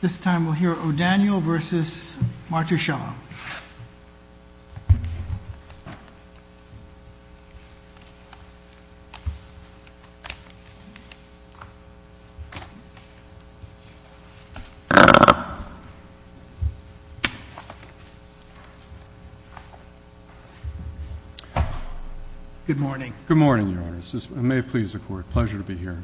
This time we'll hear O'Daniel v. Martuscello. Good morning. Good morning, Your Honor. May it please the Court. Pleasure to be here.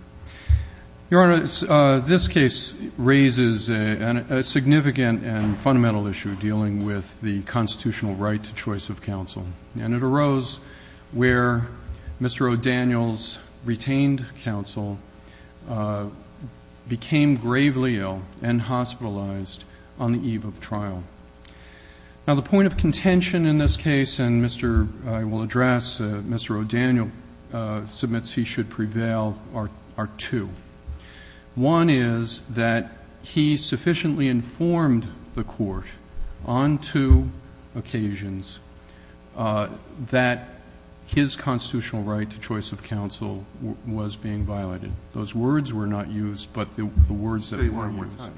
Your Honor, this case raises a significant and fundamental issue dealing with the constitutional right to choice of counsel. And it arose where Mr. O'Daniel's retained counsel became gravely ill and hospitalized on the eve of trial. Now, the point of contention in this case, and Mr. — I will address, Mr. O'Daniel submits he should prevail, are two. One is that he sufficiently informed the Court on two occasions that his constitutional right to choice of counsel was being violated. Those words were not used, but the words that were used.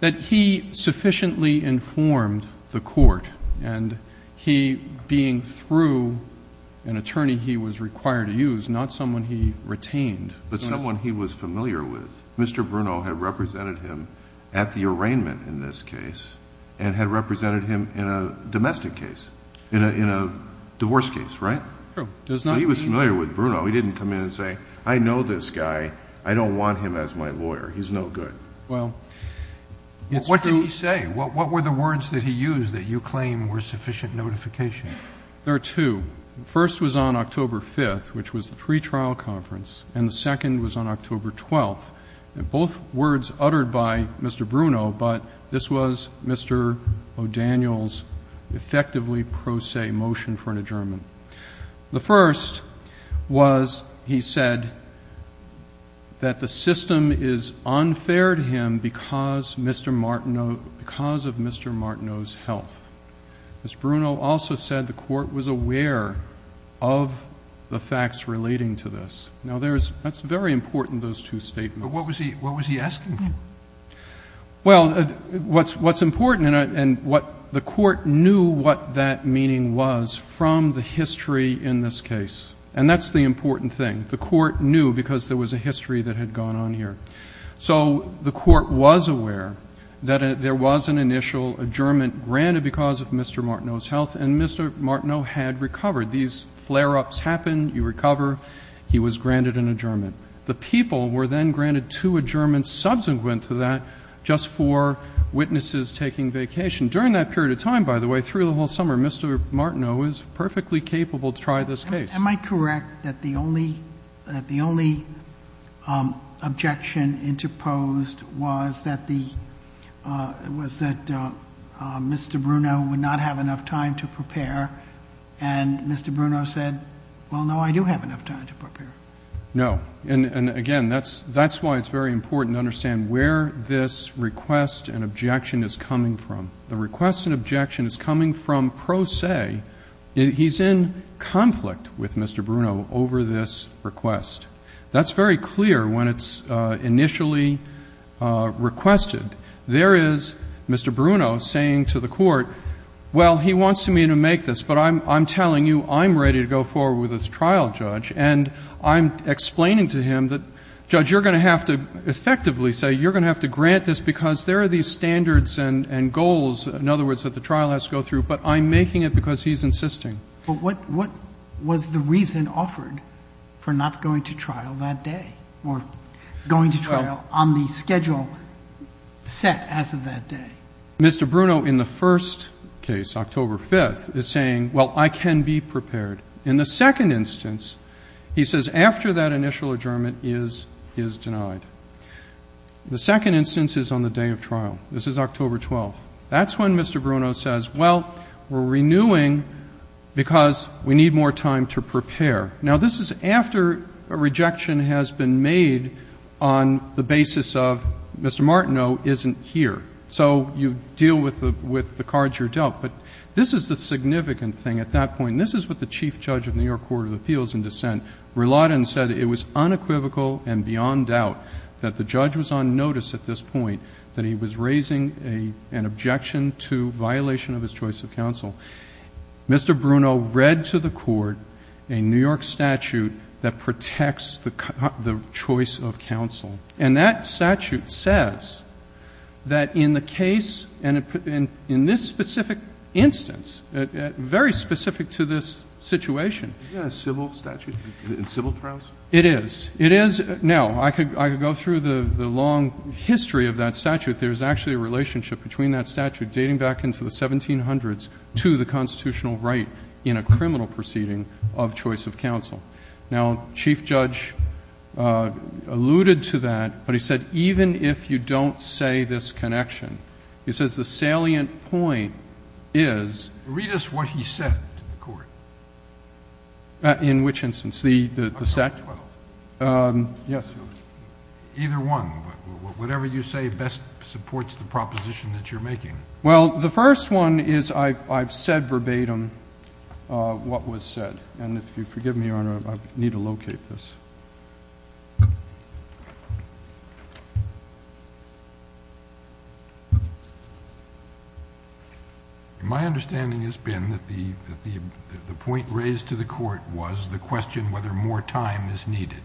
That he sufficiently informed the Court, and he being through an attorney he was required to use, not someone he retained. But someone he was familiar with. Mr. Bruno had represented him at the arraignment in this case and had represented him in a domestic case, in a divorce case, right? True. He was familiar with Bruno. He didn't come in and say, I know this guy. I don't want him as my lawyer. He's no good. Well, it's true. What did he say? What were the words that he used that you claim were sufficient notification? There are two. The first was on October 5th, which was the pretrial conference, and the second was on October 12th. Both words uttered by Mr. Bruno, but this was Mr. O'Daniel's effectively pro se motion for an adjournment. The first was he said that the system is unfair to him because Mr. Martino, because of Mr. Martino's health. As Bruno also said, the Court was aware of the facts relating to this. Now, there's, that's very important, those two statements. But what was he, what was he asking for? Well, what's important, and what the Court knew what that meaning was from the history in this case, and that's the important thing. The Court knew because there was a history that had gone on here. So the Court was aware that there was an initial adjournment granted because of Mr. Martino's health, and Mr. Martino had recovered. These flare-ups happen, you recover, he was granted an adjournment. The people were then granted two adjournments subsequent to that just for witnesses taking vacation. During that period of time, by the way, through the whole summer, Mr. Martino was perfectly capable to try this case. Am I correct that the only, that the only objection interposed was that the, was that Mr. Bruno would not have enough time to prepare? And Mr. Bruno said, well, no, I do have enough time to prepare. No. And again, that's why it's very important to understand where this request and objection is coming from. The request and objection is coming from pro se. He's in conflict with Mr. Bruno over this request. That's very clear when it's initially requested. There is Mr. Bruno saying to the Court, well, he wants me to make this, but I'm telling you I'm ready to go forward with this trial, Judge. And I'm explaining to him that, Judge, you're going to have to effectively say you're going to have to grant this because there are these standards and goals, in other words, that the trial has to go through, but I'm making it because he's insisting. But what was the reason offered for not going to trial that day or going to trial on the schedule set as of that day? Mr. Bruno in the first case, October 5th, is saying, well, I can be prepared. In the second instance, he says after that initial adjournment is denied. The second instance is on the day of trial. This is October 12th. That's when Mr. Bruno says, well, we're renewing because we need more time to prepare. Now, this is after a rejection has been made on the basis of Mr. Martineau isn't here. So you deal with the cards you're dealt. But this is the significant thing at that point. And this is what the Chief Judge of the New York Court of Appeals in dissent, Rulotin, said it was unequivocal and beyond doubt that the judge was on notice at this point that he was raising an objection to violation of his choice of counsel. Mr. Bruno read to the Court a New York statute that protects the choice of counsel. And that statute says that in the case and in this specific instance, very specific to this situation. Is that a civil statute? It's civil trials? It is. It is. Now, I could go through the long history of that statute. There's actually a relationship between that statute dating back into the 1700s to the constitutional right in a criminal proceeding of choice of counsel. Now, Chief Judge alluded to that, but he said even if you don't say this connection, he says the salient point is. Read us what he said to the Court. In which instance? The statute? Yes, Your Honor. Either one. Whatever you say best supports the proposition that you're making. Well, the first one is I've said verbatim what was said. And if you forgive me, Your Honor, I need to locate this. My understanding has been that the point raised to the Court was the question whether more time is needed.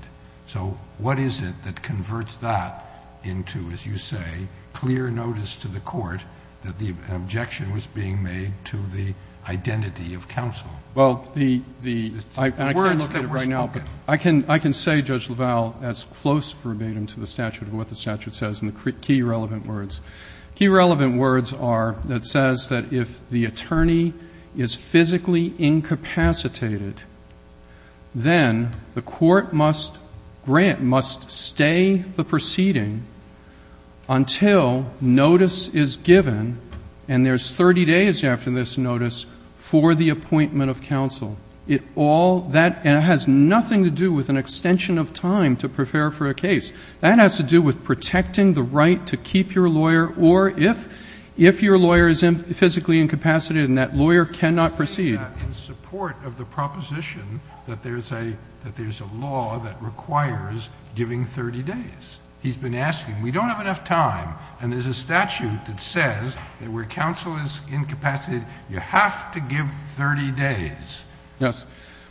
So what is it that converts that into, as you say, clear notice to the Court that the objection was being made to the identity of counsel? Well, the words that were spoken. I can say, Judge LaValle, as close verbatim to the statute of what the statute says and the key relevant words. Key relevant words are that says that if the attorney is physically incapacitated, then the court must grant, must stay the proceeding until notice is given, and there's 30 days after this notice for the appointment of counsel. It all that has nothing to do with an extension of time to prepare for a case. That has to do with protecting the right to keep your lawyer or if your lawyer is physically incapacitated and that lawyer cannot proceed. In support of the proposition that there's a law that requires giving 30 days. He's been asking, we don't have enough time, and there's a statute that says that where counsel is incapacitated, you have to give 30 days. Yes.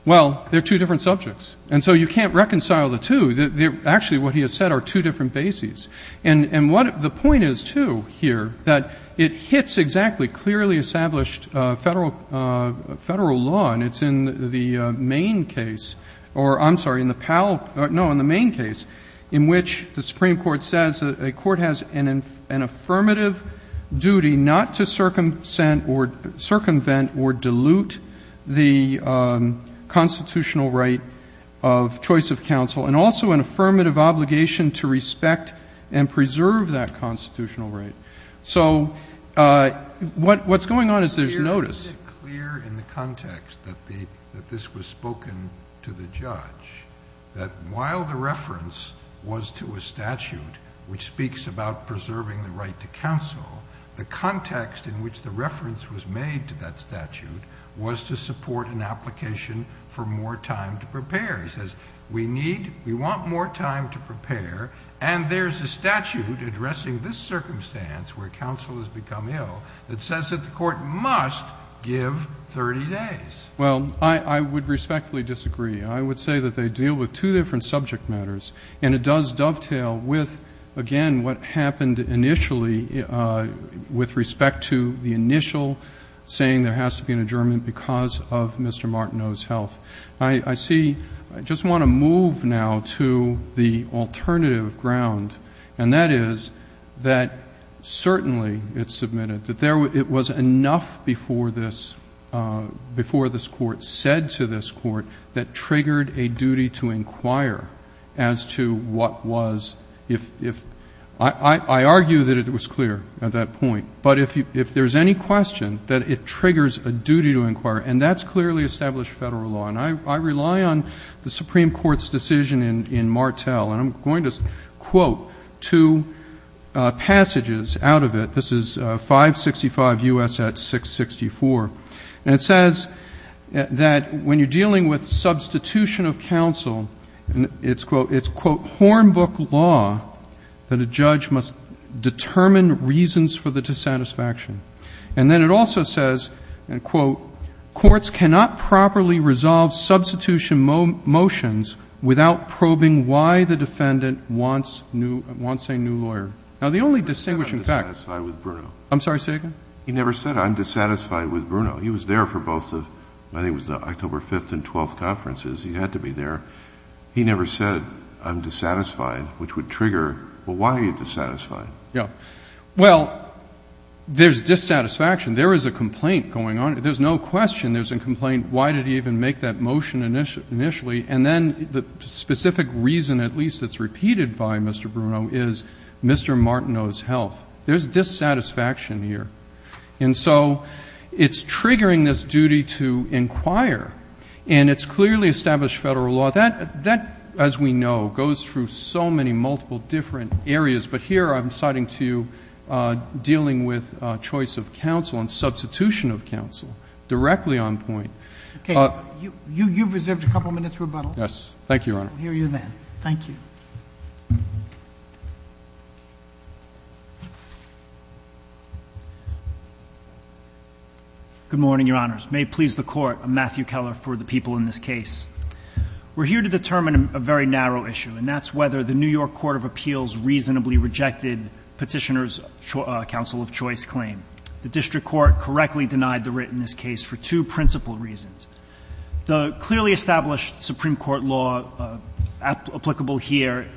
Well, they're two different subjects. And so you can't reconcile the two. Actually, what he has said are two different bases. And what the point is, too, here, that it hits exactly clearly established Federal law, and it's in the main case, or I'm sorry, in the PAL, no, in the main case, in which the Supreme Court says a court has an affirmative duty not to circumvent or dilute the constitutional right of choice of counsel and also an affirmative obligation to respect and preserve that constitutional right. So what's going on is there's notice. Isn't it clear in the context that this was spoken to the judge that while the reference was to a statute which speaks about preserving the right to counsel, the context in which the reference was made to that statute was to support an application for more time to prepare. He says, we need, we want more time to prepare, and there's a statute addressing this circumstance where counsel has become ill that says that the court must give 30 days. Well, I would respectfully disagree. I would say that they deal with two different subject matters, and it does dovetail with, again, what happened initially with respect to the initial saying there has to be an adjournment because of Mr. Martineau's health. I see, I just want to move now to the alternative ground, and that is that certainly it's submitted, that there, it was enough before this, before this Court said to this Court that triggered a duty to inquire as to what was, if, I argue that it was clear at that point, but if there's any question that it triggers a duty to inquire, and that's clearly established federal law, and I rely on the Supreme Court's decision in Martel, and I'm going to quote two passages out of it. This is 565 U.S. at 664, and it says that when you're dealing with substitution of counsel, it's, quote, it's, quote, hornbook law that a judge must determine reasons for the dissatisfaction. And then it also says, and quote, courts cannot properly resolve substitution motions without probing why the defendant wants new, wants a new lawyer. Now, the only distinguishing fact. He never said I'm dissatisfied with Bruno. I'm sorry, say it again. He never said I'm dissatisfied with Bruno. He was there for both the, I think it was the October 5th and 12th conferences. He had to be there. He never said I'm dissatisfied, which would trigger, well, why are you dissatisfied? Yeah. Well, there's dissatisfaction. There is a complaint going on. There's no question there's a complaint. Why did he even make that motion initially? And then the specific reason, at least, that's repeated by Mr. Bruno is Mr. Martino's health. There's dissatisfaction here. And so it's triggering this duty to inquire, and it's clearly established federal law. That, as we know, goes through so many multiple different areas. But here I'm citing to you dealing with choice of counsel and substitution of counsel directly on point. Okay. You've reserved a couple minutes rebuttal. Yes. Thank you, Your Honor. We'll hear you then. Thank you. Good morning, Your Honors. May it please the Court, I'm Matthew Keller for the people in this case. We're here to determine a very narrow issue, and that's whether the New York Court of Appeals actually rejected Petitioner's counsel of choice claim. The district court correctly denied the writ in this case for two principal reasons. The clearly established Supreme Court law applicable here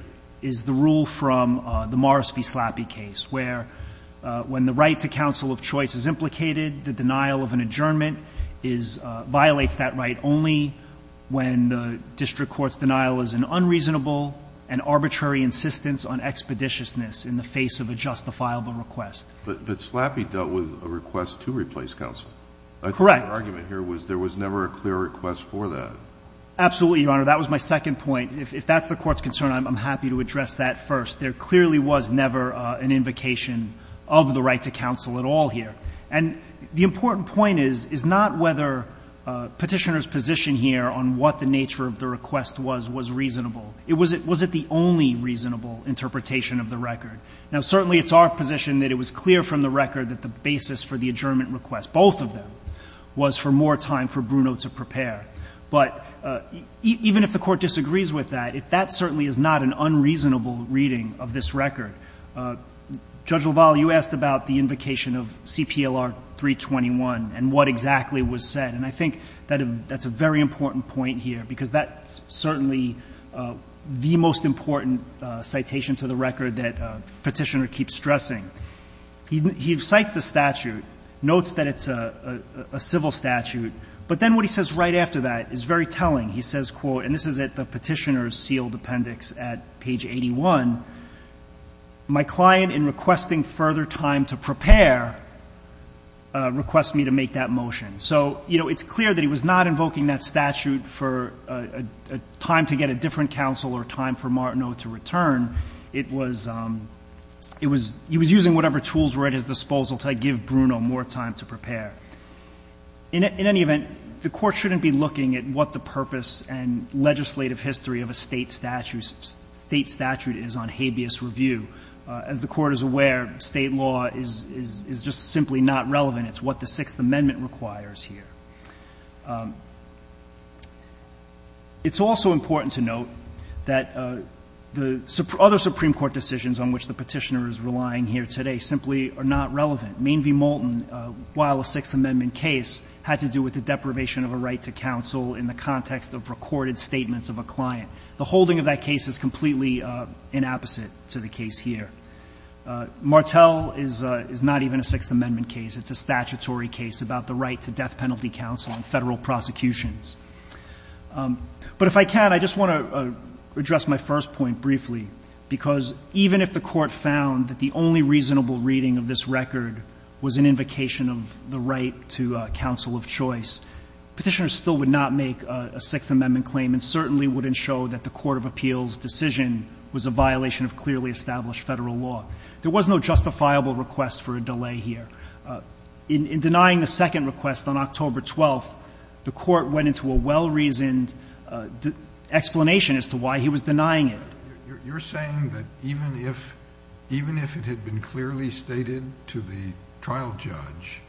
is the rule from the Morris v. Slappy case, where when the right to counsel of choice is implicated, the denial of an adjournment violates that right only when the district court's denial is an unreasonable and arbitrary insistence on expeditiousness in the face of a justifiable request. But Slappy dealt with a request to replace counsel. Correct. I think the argument here was there was never a clear request for that. Absolutely, Your Honor. That was my second point. If that's the Court's concern, I'm happy to address that first. There clearly was never an invocation of the right to counsel at all here. And the important point is, is not whether Petitioner's position here on what the nature of the request was, was reasonable. Was it the only reasonable interpretation of the record? Now, certainly it's our position that it was clear from the record that the basis for the adjournment request, both of them, was for more time for Bruno to prepare. But even if the Court disagrees with that, that certainly is not an unreasonable reading of this record. Judge LaValle, you asked about the invocation of CPLR 321 and what exactly was said. And I think that's a very important point here, because that's certainly the most important citation to the record that Petitioner keeps stressing. He cites the statute, notes that it's a civil statute, but then what he says right after that is very telling. He says, quote, and this is at the Petitioner's sealed appendix at page 81, my client in requesting further time to prepare requests me to make that motion. So, you know, it's clear that he was not invoking that statute for a time to get a different counsel or time for Martineau to return. It was, it was, he was using whatever tools were at his disposal to give Bruno more time to prepare. In any event, the Court shouldn't be looking at what the purpose and legislative history of a State statute is on habeas review. As the Court is aware, State law is just simply not relevant. It's what the Sixth Amendment requires here. It's also important to note that the other Supreme Court decisions on which the Petitioner is relying here today simply are not relevant. Main v. Moulton, while a Sixth Amendment case had to do with the deprivation of a right to counsel in the context of recorded statements of a client. The holding of that case is completely in opposite to the case here. Martel is not even a Sixth Amendment case. It's a statutory case about the right to death penalty counsel in Federal prosecutions. But if I can, I just want to address my first point briefly. Because even if the Court found that the only reasonable reading of this record was an invocation of the right to counsel of choice, Petitioner still would not make a Sixth Amendment claim and certainly wouldn't show that the court of appeals decision was a violation of clearly established Federal law. There was no justifiable request for a delay here. In denying the second request on October 12th, the Court went into a well-reasoned explanation as to why he was denying it. You're saying that even if it had been clearly stated to the trial judge,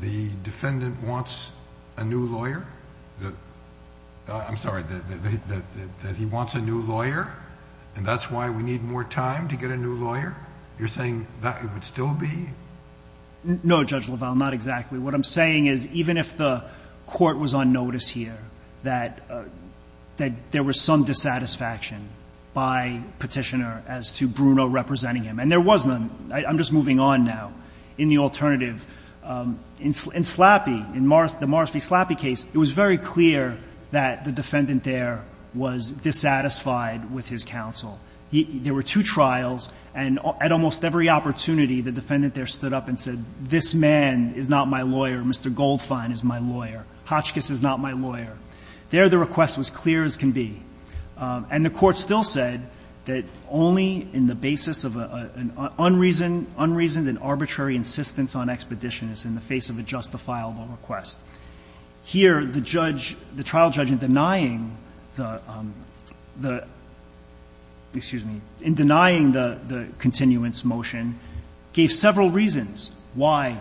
the defendant wants a new lawyer? I'm sorry, that he wants a new lawyer and that's why we need more time to get a new lawyer? You're saying that it would still be? No, Judge LaValle, not exactly. What I'm saying is even if the Court was on notice here that there was some dissatisfaction by Petitioner as to Bruno representing him, and there was none. I'm just moving on now in the alternative. In Slappy, in the Morris v. Slappy case, it was very clear that the defendant there was dissatisfied with his counsel. There were two trials and at almost every opportunity the defendant there stood up and said, this man is not my lawyer, Mr. Goldfein is my lawyer, Hotchkiss is not my lawyer. There the request was clear as can be. And the Court still said that only in the basis of an unreasoned and arbitrary insistence on expedition is in the face of a justifiable request. Here, the judge, the trial judge in denying the, excuse me, in denying the continuance motion gave several reasons why,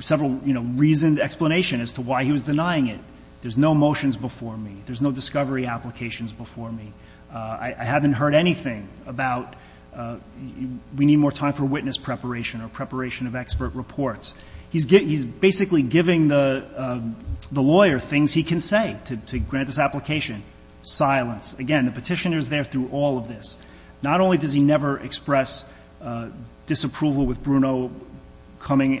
several, you know, reasoned explanation as to why he was denying it. There's no motions before me. There's no discovery applications before me. I haven't heard anything about we need more time for witness preparation or preparation of expert reports. He's basically giving the lawyer things he can say to grant this application. Silence. Again, the Petitioner is there through all of this. Not only does he never express disapproval with Bruno appearing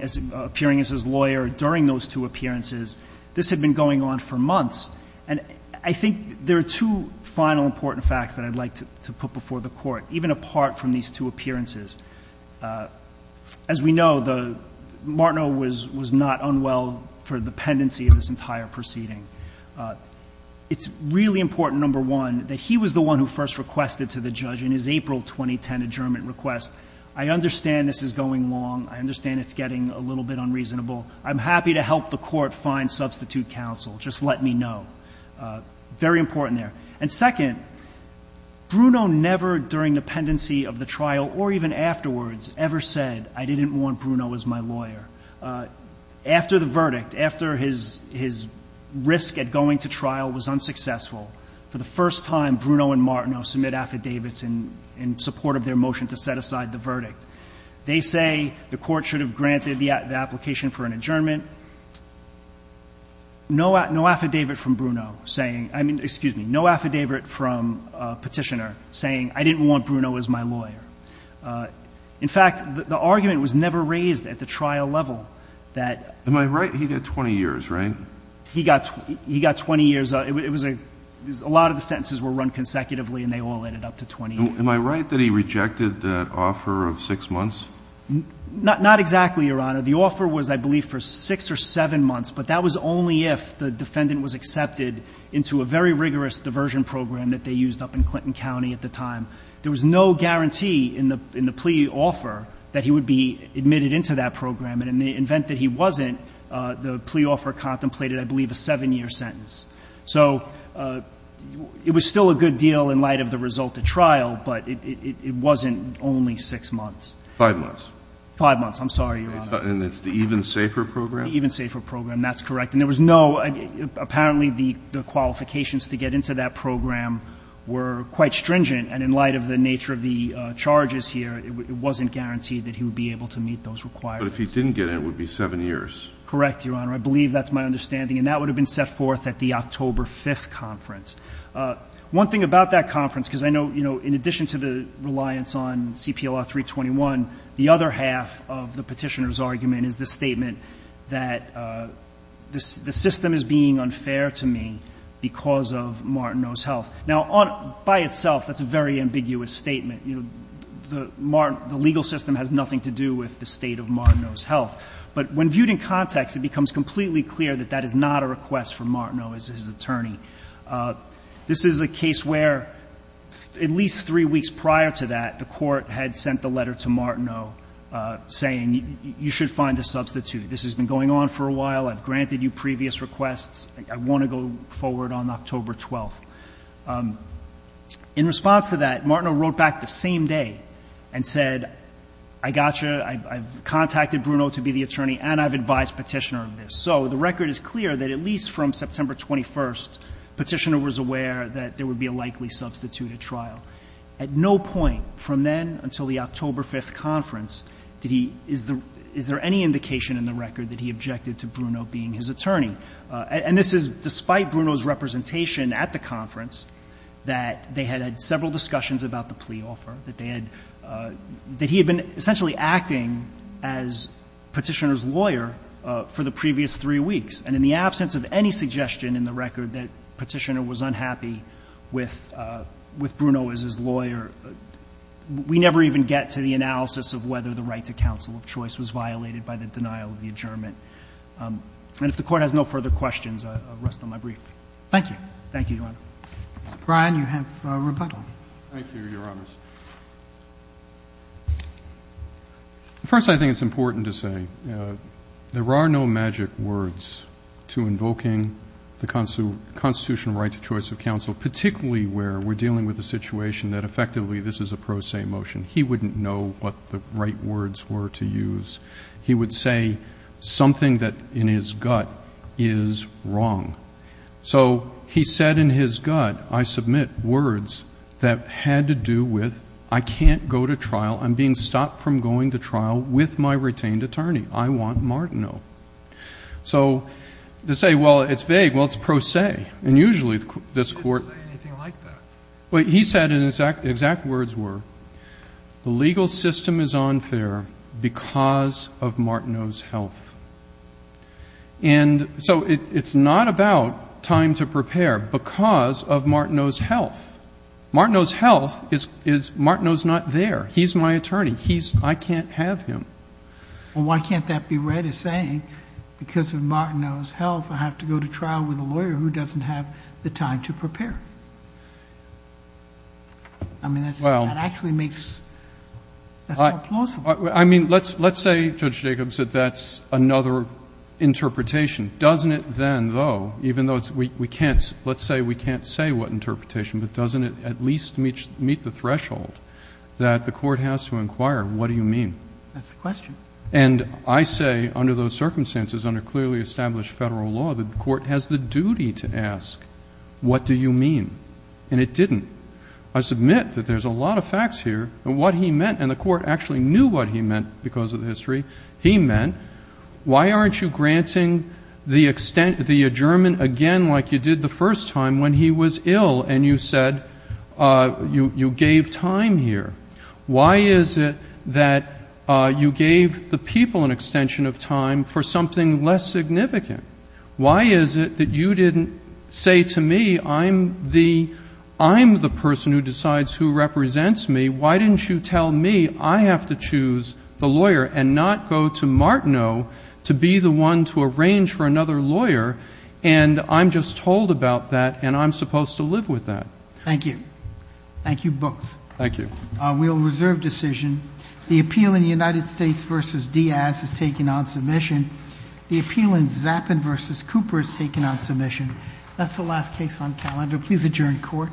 as his lawyer during those two appearances, this had been going on for months. And I think there are two final important facts that I'd like to put before the Court, even apart from these two appearances. As we know, Martino was not unwell for the pendency of this entire proceeding. It's really important, number one, that he was the one who first requested to the judge in his April 2010 adjournment request. I understand this is going long. I understand it's getting a little bit unreasonable. I'm happy to help the Court find substitute counsel. Just let me know. Very important there. And second, Bruno never, during the pendency of the trial or even afterwards, ever said, I didn't want Bruno as my lawyer. After the verdict, after his risk at going to trial was unsuccessful, for the first time, Bruno and Martino submit affidavits in support of their motion to set aside the verdict. They say the Court should have granted the application for an adjournment. No affidavit from Bruno saying — I mean, excuse me, no affidavit from Petitioner saying, I didn't want Bruno as my lawyer. In fact, the argument was never raised at the trial level that — Am I right? He got 20 years, right? He got 20 years. It was a — a lot of the sentences were run consecutively, and they all ended up to 20 years. Am I right that he rejected that offer of six months? Not exactly, Your Honor. The offer was, I believe, for six or seven months, but that was only if the defendant was accepted into a very rigorous diversion program that they used up in Clinton County at the time. There was no guarantee in the — in the plea offer that he would be admitted into that program. And in the event that he wasn't, the plea offer contemplated, I believe, a seven-year sentence. So it was still a good deal in light of the result of trial, but it wasn't only six months. Five months. Five months. I'm sorry, Your Honor. And it's the even safer program? The even safer program. That's correct. And there was no — apparently the qualifications to get into that program were quite stringent, and in light of the nature of the charges here, it wasn't guaranteed that he would be able to meet those requirements. But if he didn't get in, it would be seven years. Correct, Your Honor. I believe that's my understanding. And that would have been set forth at the October 5th conference. One thing about that conference, because I know, you know, in addition to the other half of the petitioner's argument is the statement that the system is being unfair to me because of Martineau's health. Now, by itself, that's a very ambiguous statement. You know, the legal system has nothing to do with the state of Martineau's health. But when viewed in context, it becomes completely clear that that is not a request from Martineau as his attorney. This is a case where at least three weeks prior to that, the court had sent the letter to Martineau saying you should find a substitute. This has been going on for a while. I've granted you previous requests. I want to go forward on October 12th. In response to that, Martineau wrote back the same day and said, I got you. I've contacted Bruno to be the attorney, and I've advised Petitioner of this. So the record is clear that at least from September 21st, Petitioner was aware that there would be a likely substitute at trial. At no point from then until the October 5th conference did he – is there any indication in the record that he objected to Bruno being his attorney? And this is despite Bruno's representation at the conference that they had had several discussions about the plea offer, that they had – that he had been essentially acting as Petitioner's lawyer for the previous three weeks. And in the absence of any suggestion in the record that Petitioner was unhappy with Bruno as his lawyer, we never even get to the analysis of whether the right to counsel of choice was violated by the denial of the adjournment. And if the Court has no further questions, I'll rest on my brief. Thank you. Thank you, Your Honor. Mr. Bryan, you have rebuttal. Thank you, Your Honors. First, I think it's important to say there are no magic words to invoking the constitutional right to choice of counsel, particularly where we're dealing with a situation that effectively this is a pro se motion. He wouldn't know what the right words were to use. He would say something that in his gut is wrong. So he said in his gut, I submit words that had to do with I can't go to trial. I'm being stopped from going to trial with my retained attorney. I want Martineau. So to say, well, it's vague, well, it's pro se. And usually this Court — He didn't say anything like that. Well, he said and the exact words were the legal system is unfair because of Martineau's health. And so it's not about time to prepare because of Martineau's health. Martineau's health is Martineau's not there. He's my attorney. He's — I can't have him. Well, why can't that be read as saying because of Martineau's health I have to go to trial with a lawyer who doesn't have the time to prepare? I mean, that actually makes — Well, I mean, let's say, Judge Jacobs, that that's another interpretation. Doesn't it then, though, even though we can't — let's say we can't say what interpretation, but doesn't it at least meet the threshold that the Court has to inquire what do you mean? That's the question. And I say under those circumstances, under clearly established Federal law, the Court has the duty to ask what do you mean? And it didn't. I submit that there's a lot of facts here and what he meant, and the Court actually knew what he meant because of the history he meant. Why aren't you granting the extent — the adjournment again like you did the first time when he was ill and you said you gave time here? Why is it that you gave the people an extension of time for something less significant? Why is it that you didn't say to me, I'm the — I'm the person who decides who represents me. Why didn't you tell me I have to choose the lawyer and not go to Martineau to be the one to arrange for another lawyer, and I'm just told about that and I'm supposed to live with that? Thank you. Thank you both. Thank you. We'll reserve decision. The appeal in the United States v. Diaz is taken on submission. The appeal in Zappin v. Cooper is taken on submission. That's the last case on calendar. Please adjourn court.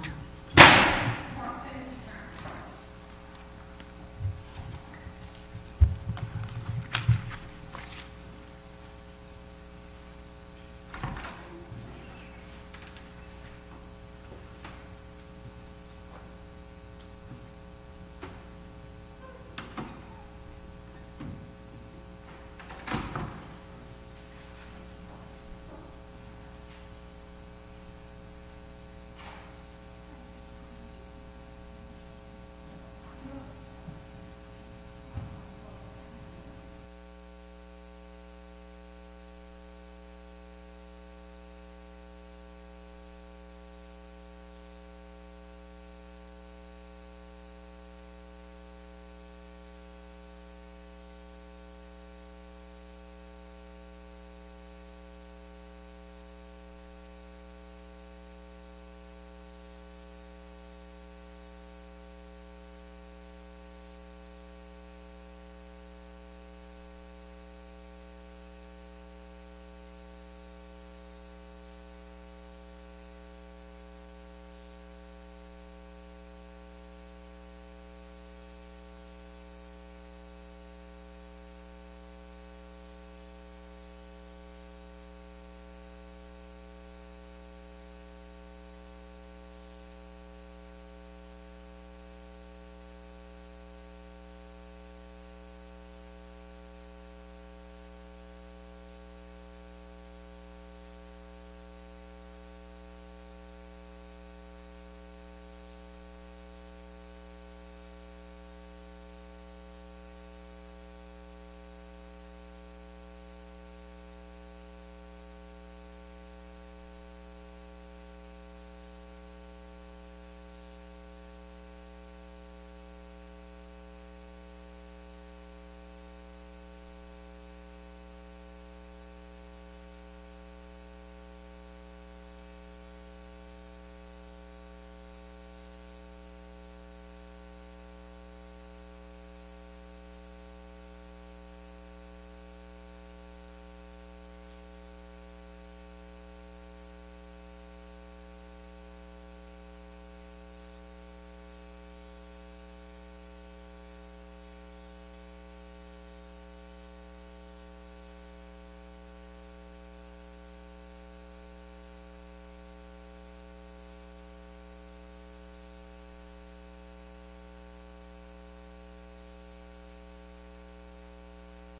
Thank you. Thank you. Thank you. Thank you. Thank you.